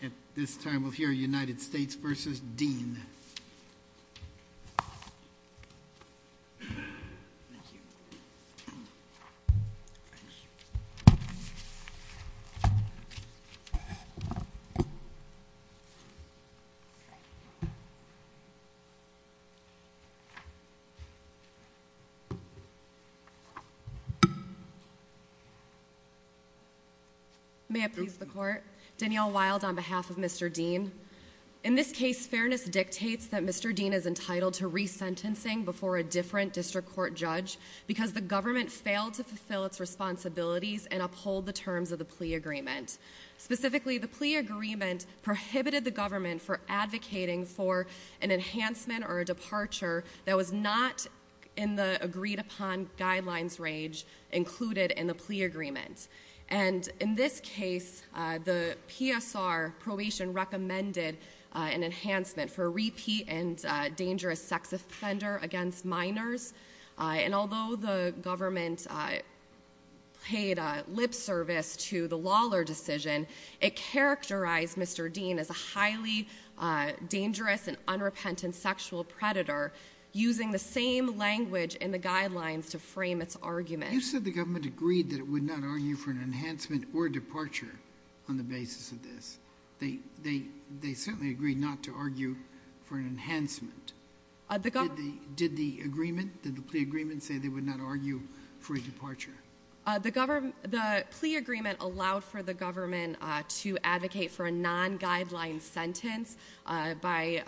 At this time, we'll hear United States versus Dean. May I please the court? Danielle Wild on behalf of Mr. Dean. In this case, fairness dictates that Mr. Dean is entitled to resentencing before a different district court judge because the government failed to fulfill its responsibilities and uphold the terms of the plea agreement. Specifically, the plea agreement prohibited the government for advocating for an enhancement or a departure that was not in the agreed upon guidelines range included in the plea agreement. And in this case, the PSR probation recommended an enhancement for repeat and dangerous sex offender against minors. And although the government paid lip service to the Lawler decision, it characterized Mr. Dean as a highly dangerous and unrepentant sexual predator using the same language in the guidelines to frame its argument. You said the government agreed that it would not argue for an enhancement or a departure on the basis of this. They certainly agreed not to argue for an enhancement. Did the agreement, did the plea agreement say they would not argue for a departure? The plea agreement allowed for the government to advocate for a non-guideline sentence by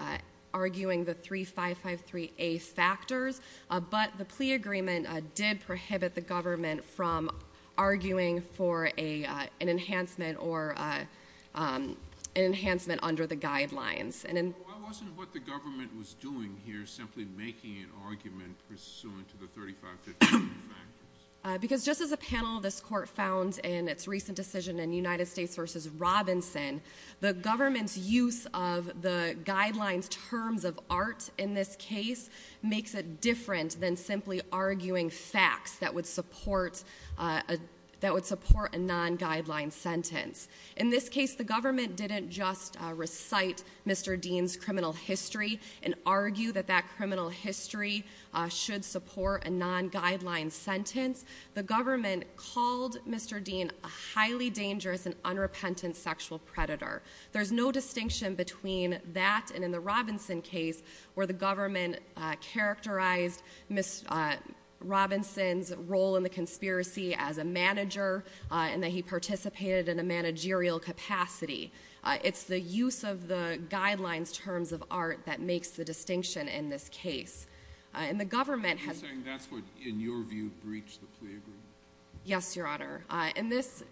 arguing the 3553A factors. But the plea agreement did prohibit the government from arguing for an enhancement under the guidelines. And then- Why wasn't what the government was doing here simply making an argument pursuant to the 3553 factors? Because just as a panel of this court found in its recent decision in United States versus Robinson, the government's use of the guidelines terms of art in this case makes it different than simply arguing facts that would support a non-guideline sentence. In this case, the government didn't just recite Mr. Dean's criminal history and argue that that criminal history should support a non-guideline sentence. The government called Mr. Dean a highly dangerous and unrepentant sexual predator. There's no distinction between that and in the Robinson case, where the government characterized Ms. Robinson's role in the conspiracy as a manager, and that he participated in a managerial capacity. It's the use of the guidelines terms of art that makes the distinction in this case. And the government has- Are you saying that's what, in your view, breached the plea agreement? Yes, Your Honor. In this,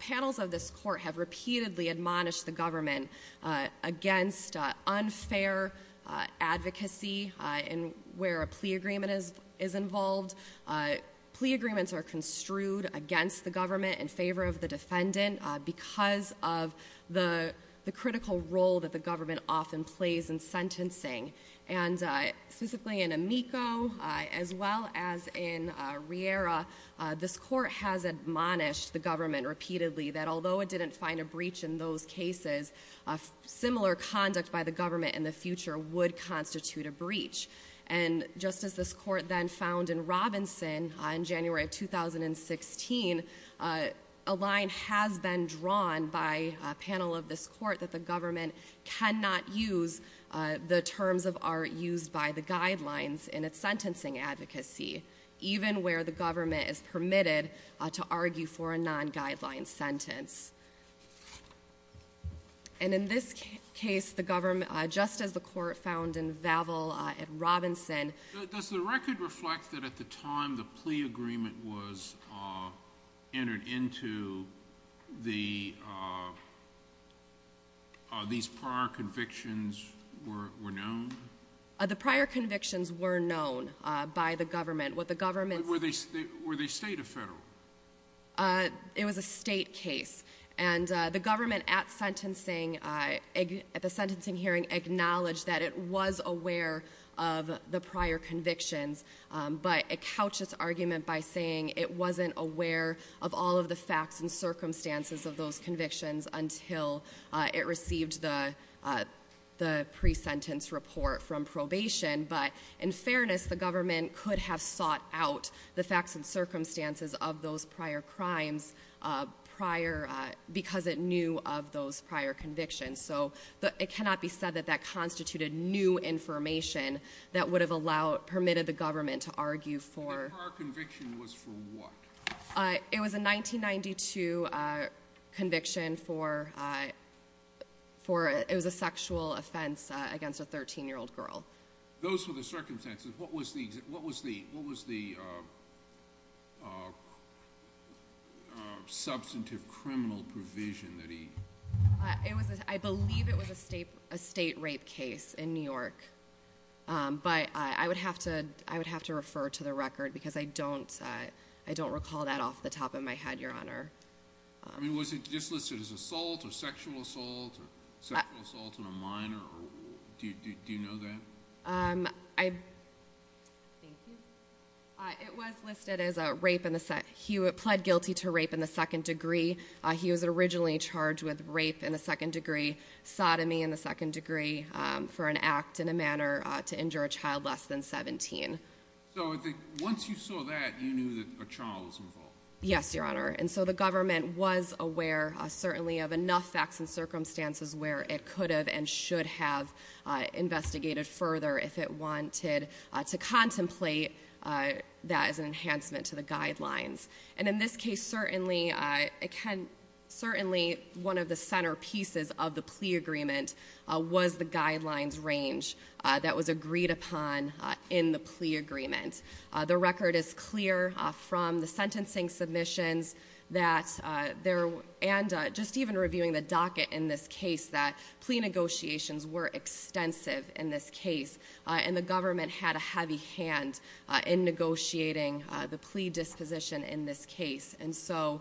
panels of this court have repeatedly admonished the government against unfair advocacy in where a plea agreement is involved. Plea agreements are construed against the government in favor of the defendant because of the critical role that the government often plays in sentencing. And specifically in Amico, as well as in Riera, this court has admonished the government repeatedly that although it didn't find a breach in those cases, similar conduct by the government in the future would constitute a breach. And just as this court then found in Robinson in January of 2016, a line has been drawn by a panel of this court that the government cannot use the terms of art used by the guidelines in its sentencing advocacy. Even where the government is permitted to argue for a non-guideline sentence. And in this case, the government, just as the court found in Vaville at Robinson- Does the record reflect that at the time the plea agreement was entered into, these prior convictions were known? The prior convictions were known by the government. What the government- Were they state or federal? It was a state case. And the government at the sentencing hearing acknowledged that it was aware of the prior convictions. But it couched its argument by saying it wasn't aware of all of the facts and circumstances of those prior crimes because it knew of those prior convictions. So it cannot be said that that constituted new information that would have allowed, permitted the government to argue for- The prior conviction was for what? It was a 1992 conviction for, it was a sexual offense against a 13 year old girl. Those were the circumstances. What was the substantive criminal provision that he- I believe it was a state rape case in New York. But I would have to refer to the record because I don't recall that off the top of my head, Your Honor. I mean, was it just listed as assault, or sexual assault, or sexual assault in a minor, or do you know that? I, thank you. It was listed as a rape in the, he pled guilty to rape in the second degree. He was originally charged with rape in the second degree, sodomy in the second degree, for an act in a manner to injure a child less than 17. So once you saw that, you knew that a child was involved? Yes, Your Honor. And so the government was aware, certainly, of enough facts and circumstances where it could have and should have investigated further if it wanted to contemplate that as an enhancement to the guidelines. And in this case, certainly, one of the centerpieces of the plea agreement was the guidelines range that was agreed upon in the plea agreement. The record is clear from the sentencing submissions that there, and just even reviewing the docket in this case, that plea negotiations were extensive in this case. And the government had a heavy hand in negotiating the plea disposition in this case. And so,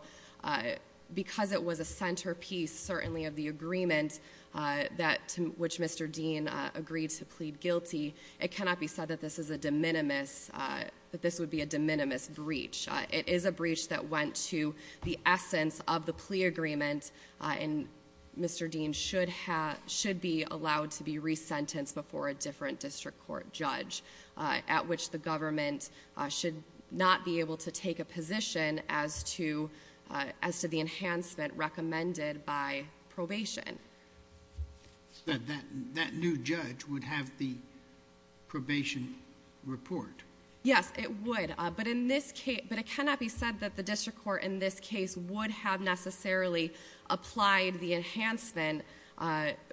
because it was a centerpiece, certainly, of the agreement, which Mr. Dean agreed to plead guilty, it cannot be said that this is a de minimis, that this would be a de minimis breach. It is a breach that went to the essence of the plea agreement, and Mr. Dean should be allowed to be re-sentenced before a different district court judge. At which the government should not be able to take a position as to the enhancement recommended by probation. That new judge would have the probation report. Yes, it would, but it cannot be said that the district court in this case would have necessarily applied the enhancement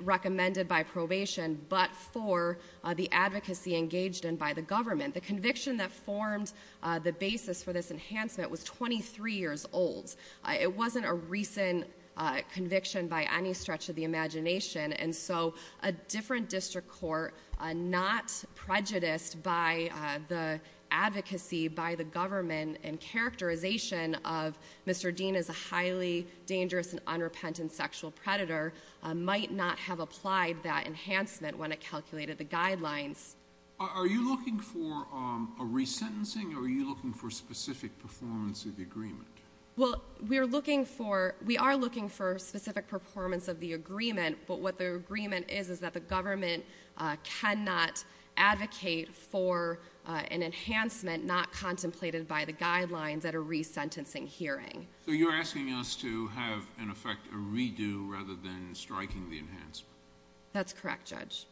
recommended by probation, but for the advocacy engaged in by the government. The conviction that formed the basis for this enhancement was 23 years old. It wasn't a recent conviction by any stretch of the imagination. And so, a different district court, not prejudiced by the advocacy, by the government, and characterization of Mr. Dean as a highly dangerous and unrepentant sexual predator, might not have applied that enhancement when it calculated the guidelines. Are you looking for a re-sentencing, or are you looking for a specific performance of the agreement? Well, we are looking for specific performance of the agreement, but what the agreement is, is that the government cannot advocate for an enhancement not contemplated by the guidelines at a re-sentencing hearing. So you're asking us to have, in effect, a redo rather than striking the enhancement? That's correct, Judge.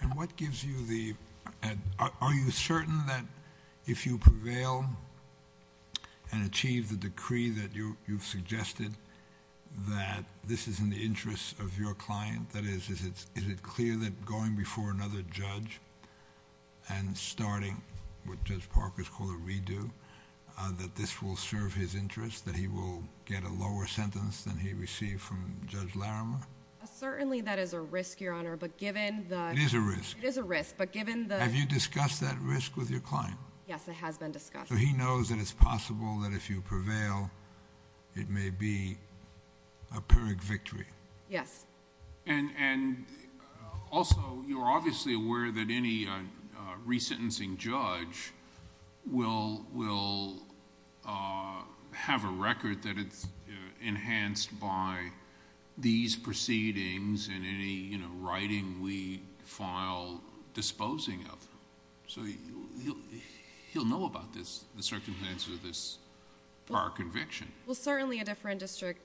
And what gives you the, are you certain that if you prevail and achieve the decree that you've suggested, that this is in the interest of your client? That is, is it clear that going before another judge and starting what Judge Parker has called a redo, that this will serve his interest? That he will get a lower sentence than he received from Judge Larimer? Certainly that is a risk, Your Honor, but given the- It is a risk. It is a risk, but given the- Have you discussed that risk with your client? Yes, it has been discussed. So he knows that it's possible that if you prevail, it may be a Pyrrhic victory? Yes. And also, you're obviously aware that any re-sentencing judge will have a record that it's proceedings and any writing we file disposing of. So he'll know about this, the circumstances of this prior conviction. Well, certainly a different district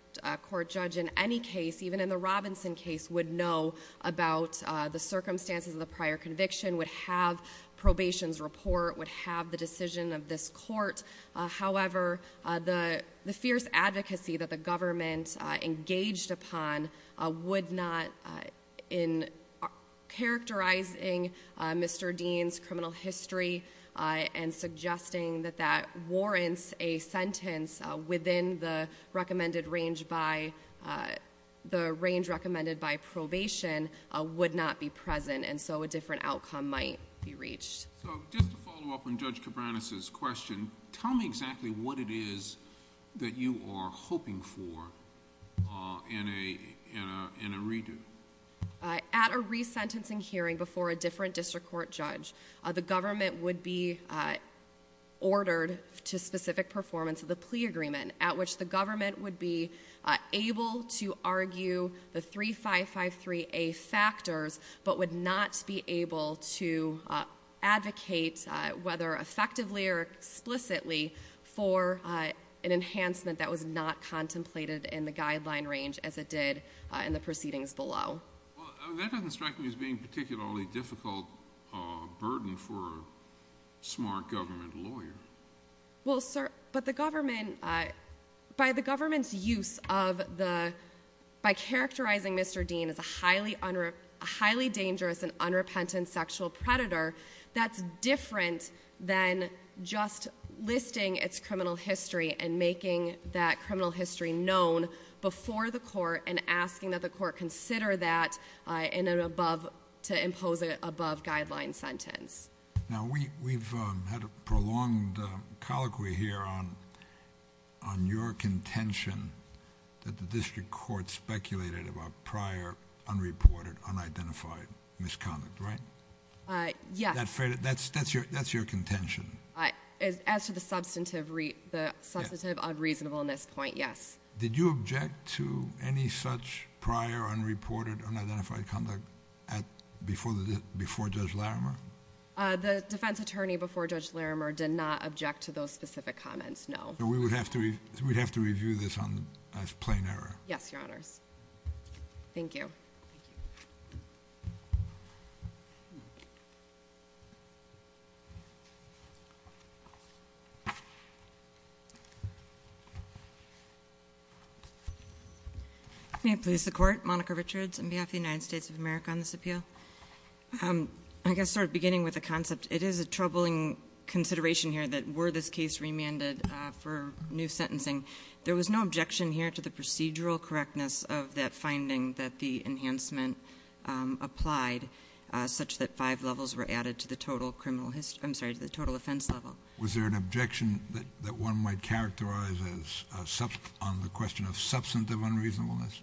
court judge in any case, even in the Robinson case, would know about the circumstances of the prior conviction, would have probation's report, would have the decision of this court. However, the fierce advocacy that the government engaged upon would not, in characterizing Mr. Dean's criminal history and suggesting that that warrants a sentence within the recommended range by, the range recommended by probation, would not be present, and so a different outcome might be reached. So, just to follow up on Judge Cabranes' question. Tell me exactly what it is that you are hoping for in a redo. At a re-sentencing hearing before a different district court judge, the government would be ordered to specific performance of the plea agreement, at which the government would be able to argue the 3553A factors, but would not be able to advocate, whether effectively or explicitly, for an enhancement that was not contemplated in the guideline range as it did in the proceedings below. Well, that doesn't strike me as being particularly difficult burden for a smart government lawyer. Well, sir, but the government, by the government's use of the, by characterizing Mr. Dean as a highly dangerous and unrepentant sexual predator, that's different than just listing its criminal history and making that criminal history known before the court and asking that the court consider that in an above, to impose an above guideline sentence. Now, we've had a prolonged colloquy here on your contention that the district court speculated about prior, unreported, unidentified misconduct, right? Yes. That's your contention. As to the substantive unreasonableness point, yes. Did you object to any such prior, unreported, unidentified conduct before Judge Larimer? The defense attorney before Judge Larimer did not object to those specific comments, no. We would have to review this on, as plain error. Yes, your honors. Thank you. May I please the court? Monica Richards on behalf of the United States of America on this appeal. I guess sort of beginning with the concept, it is a troubling consideration here that were this case remanded for new sentencing, there was no objection here to the procedural correctness of that finding that the enhancement applied such that five levels were added to the total offense level. Was there an objection that one might characterize as on the question of substantive unreasonableness?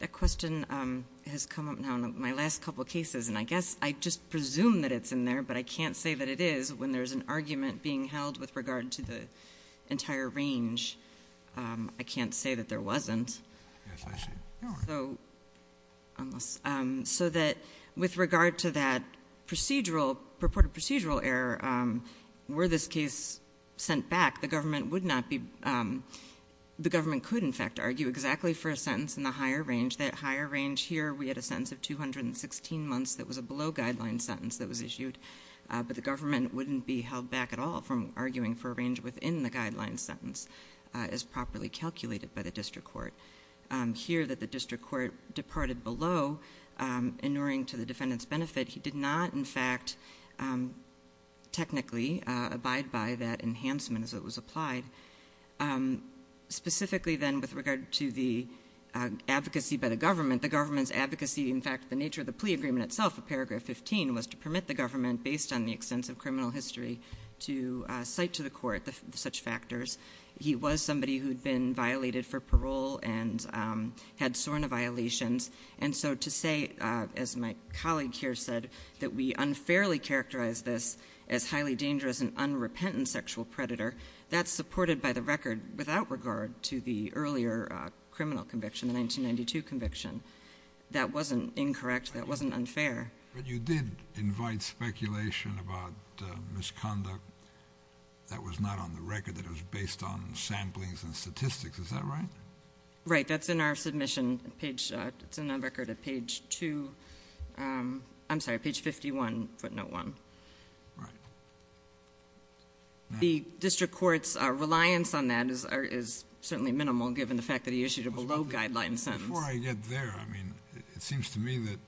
That question has come up now in my last couple of cases, and I guess I just presume that it's in there, but I can't say that it is when there's an argument being held with regard to the entire range. I can't say that there wasn't. Yes, I see. So, unless, so that with regard to that procedural, purported procedural error, were this case sent back, the government would not be, the government could in fact argue exactly for a sentence in the higher range. That higher range here, we had a sentence of 216 months that was a below guideline sentence that was issued. But the government wouldn't be held back at all from arguing for a range within the guideline sentence as properly calculated by the district court. Here that the district court departed below, inuring to the defendant's benefit, he did not in fact technically abide by that enhancement as it was applied. Specifically then with regard to the advocacy by the government, the government's advocacy, in fact the nature of the plea agreement itself, paragraph 15, was to permit the government, based on the extensive criminal history, to cite to the court such factors. He was somebody who'd been violated for parole and had SORNA violations. And so to say, as my colleague here said, that we unfairly characterize this as highly dangerous and reported by the record without regard to the earlier criminal conviction, the 1992 conviction. That wasn't incorrect, that wasn't unfair. But you did invite speculation about misconduct that was not on the record, that was based on samplings and statistics, is that right? Right, that's in our submission page, it's in our record at page two, I'm sorry, page 51, footnote one. Right. The district court's reliance on that is certainly minimal, given the fact that he issued a below guideline sentence. Before I get there, I mean, it seems to me that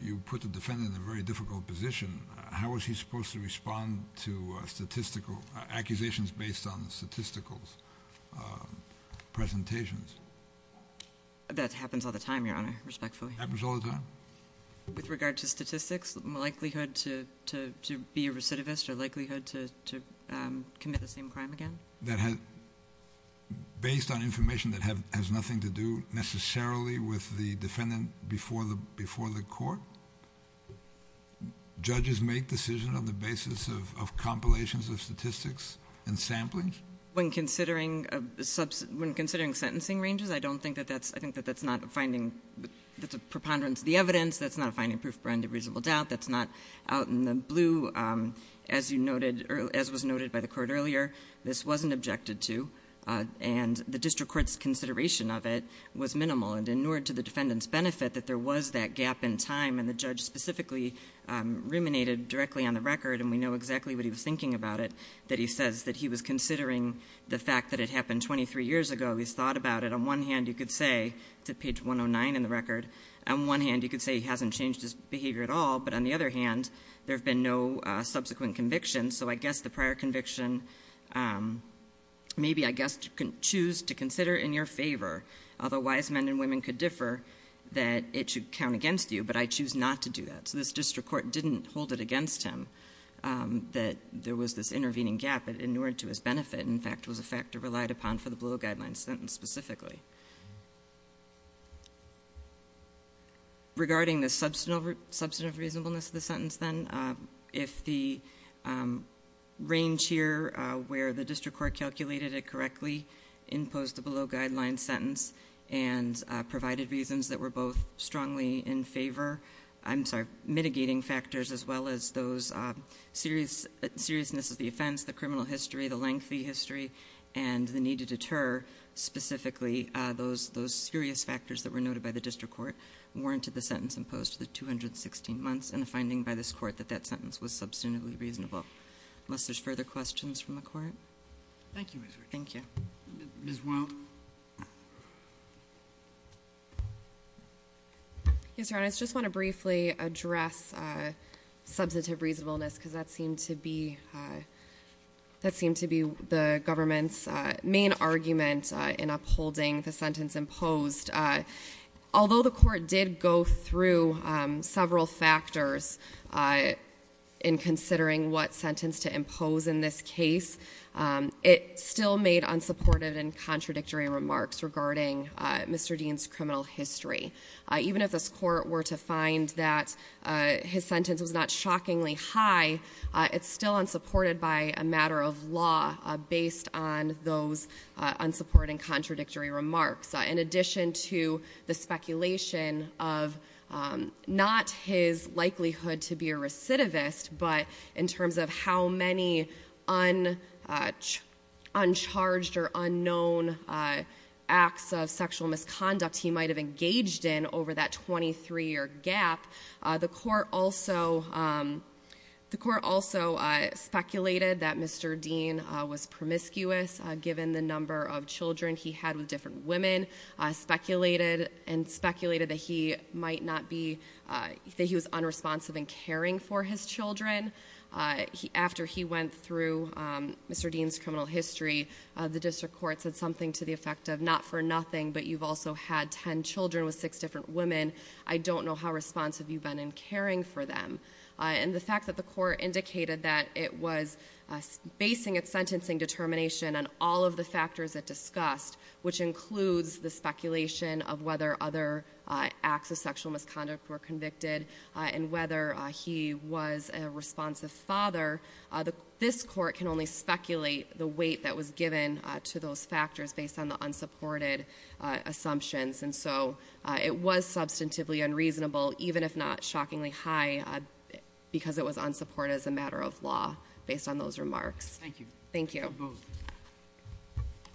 you put the defendant in a very difficult position. How was he supposed to respond to accusations based on statistical presentations? That happens all the time, Your Honor, respectfully. Happens all the time? With regard to statistics, likelihood to be a recidivist, or likelihood to commit the same crime again? That has, based on information that has nothing to do necessarily with the defendant before the court, judges make decisions on the basis of compilations of statistics and samplings? When considering sentencing ranges, I think that's a preponderance of the evidence. That's not a finding proof of unreasonable doubt. That's not out in the blue, as was noted by the court earlier. This wasn't objected to, and the district court's consideration of it was minimal. And in order to the defendant's benefit, that there was that gap in time, and the judge specifically ruminated directly on the record. And we know exactly what he was thinking about it, that he says that he was considering the fact that it happened 23 years ago. He's thought about it. On one hand, you could say, it's at page 109 in the record. On one hand, you could say he hasn't changed his behavior at all, but on the other hand, there have been no subsequent convictions. So I guess the prior conviction, maybe I guess you can choose to consider in your favor. Otherwise, men and women could differ that it should count against you, but I choose not to do that. So this district court didn't hold it against him, that there was this intervening gap, and in order to his benefit, in fact, was a factor relied upon for the below guidelines sentence specifically. Regarding the substantive reasonableness of the sentence then, if the range here where the district court calculated it correctly, imposed the below guidelines sentence, and provided reasons that were both strongly in favor. I'm sorry, mitigating factors, as well as those seriousness of the offense, the criminal history, the lengthy history, and the need to deter specifically, those serious factors that were noted by the district court warranted the sentence imposed to the 216 months, and the finding by this court that that sentence was substantively reasonable. Unless there's further questions from the court? Thank you, Ms. Wright. Thank you. Ms. Wild? Yes, Your Honor, I just want to briefly address substantive reasonableness, because that seemed to be the government's main argument in upholding the sentence imposed. Although the court did go through several factors in considering what sentence to impose in this case, it still made unsupportive and contradictory arguments. Contradictory remarks regarding Mr. Dean's criminal history. Even if this court were to find that his sentence was not shockingly high, it's still unsupported by a matter of law based on those unsupporting contradictory remarks. In addition to the speculation of not his likelihood to be a recidivist, but in terms of how many uncharged or acts of sexual misconduct he might have engaged in over that 23 year gap. The court also speculated that Mr. Dean was promiscuous given the number of children he had with different women. Speculated and speculated that he was unresponsive and caring for his children. After he went through Mr. Dean's criminal history, the district court said something to the effect of not for nothing, but you've also had ten children with six different women. I don't know how responsive you've been in caring for them. And the fact that the court indicated that it was basing its sentencing determination on all of the factors it discussed, which includes the speculation of whether other acts of sexual misconduct were convicted. And whether he was a responsive father. This court can only speculate the weight that was given to those factors based on the unsupported assumptions. And so it was substantively unreasonable, even if not shockingly high, because it was unsupported as a matter of law based on those remarks. Thank you. Thank you.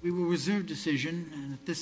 We will reserve decision and at this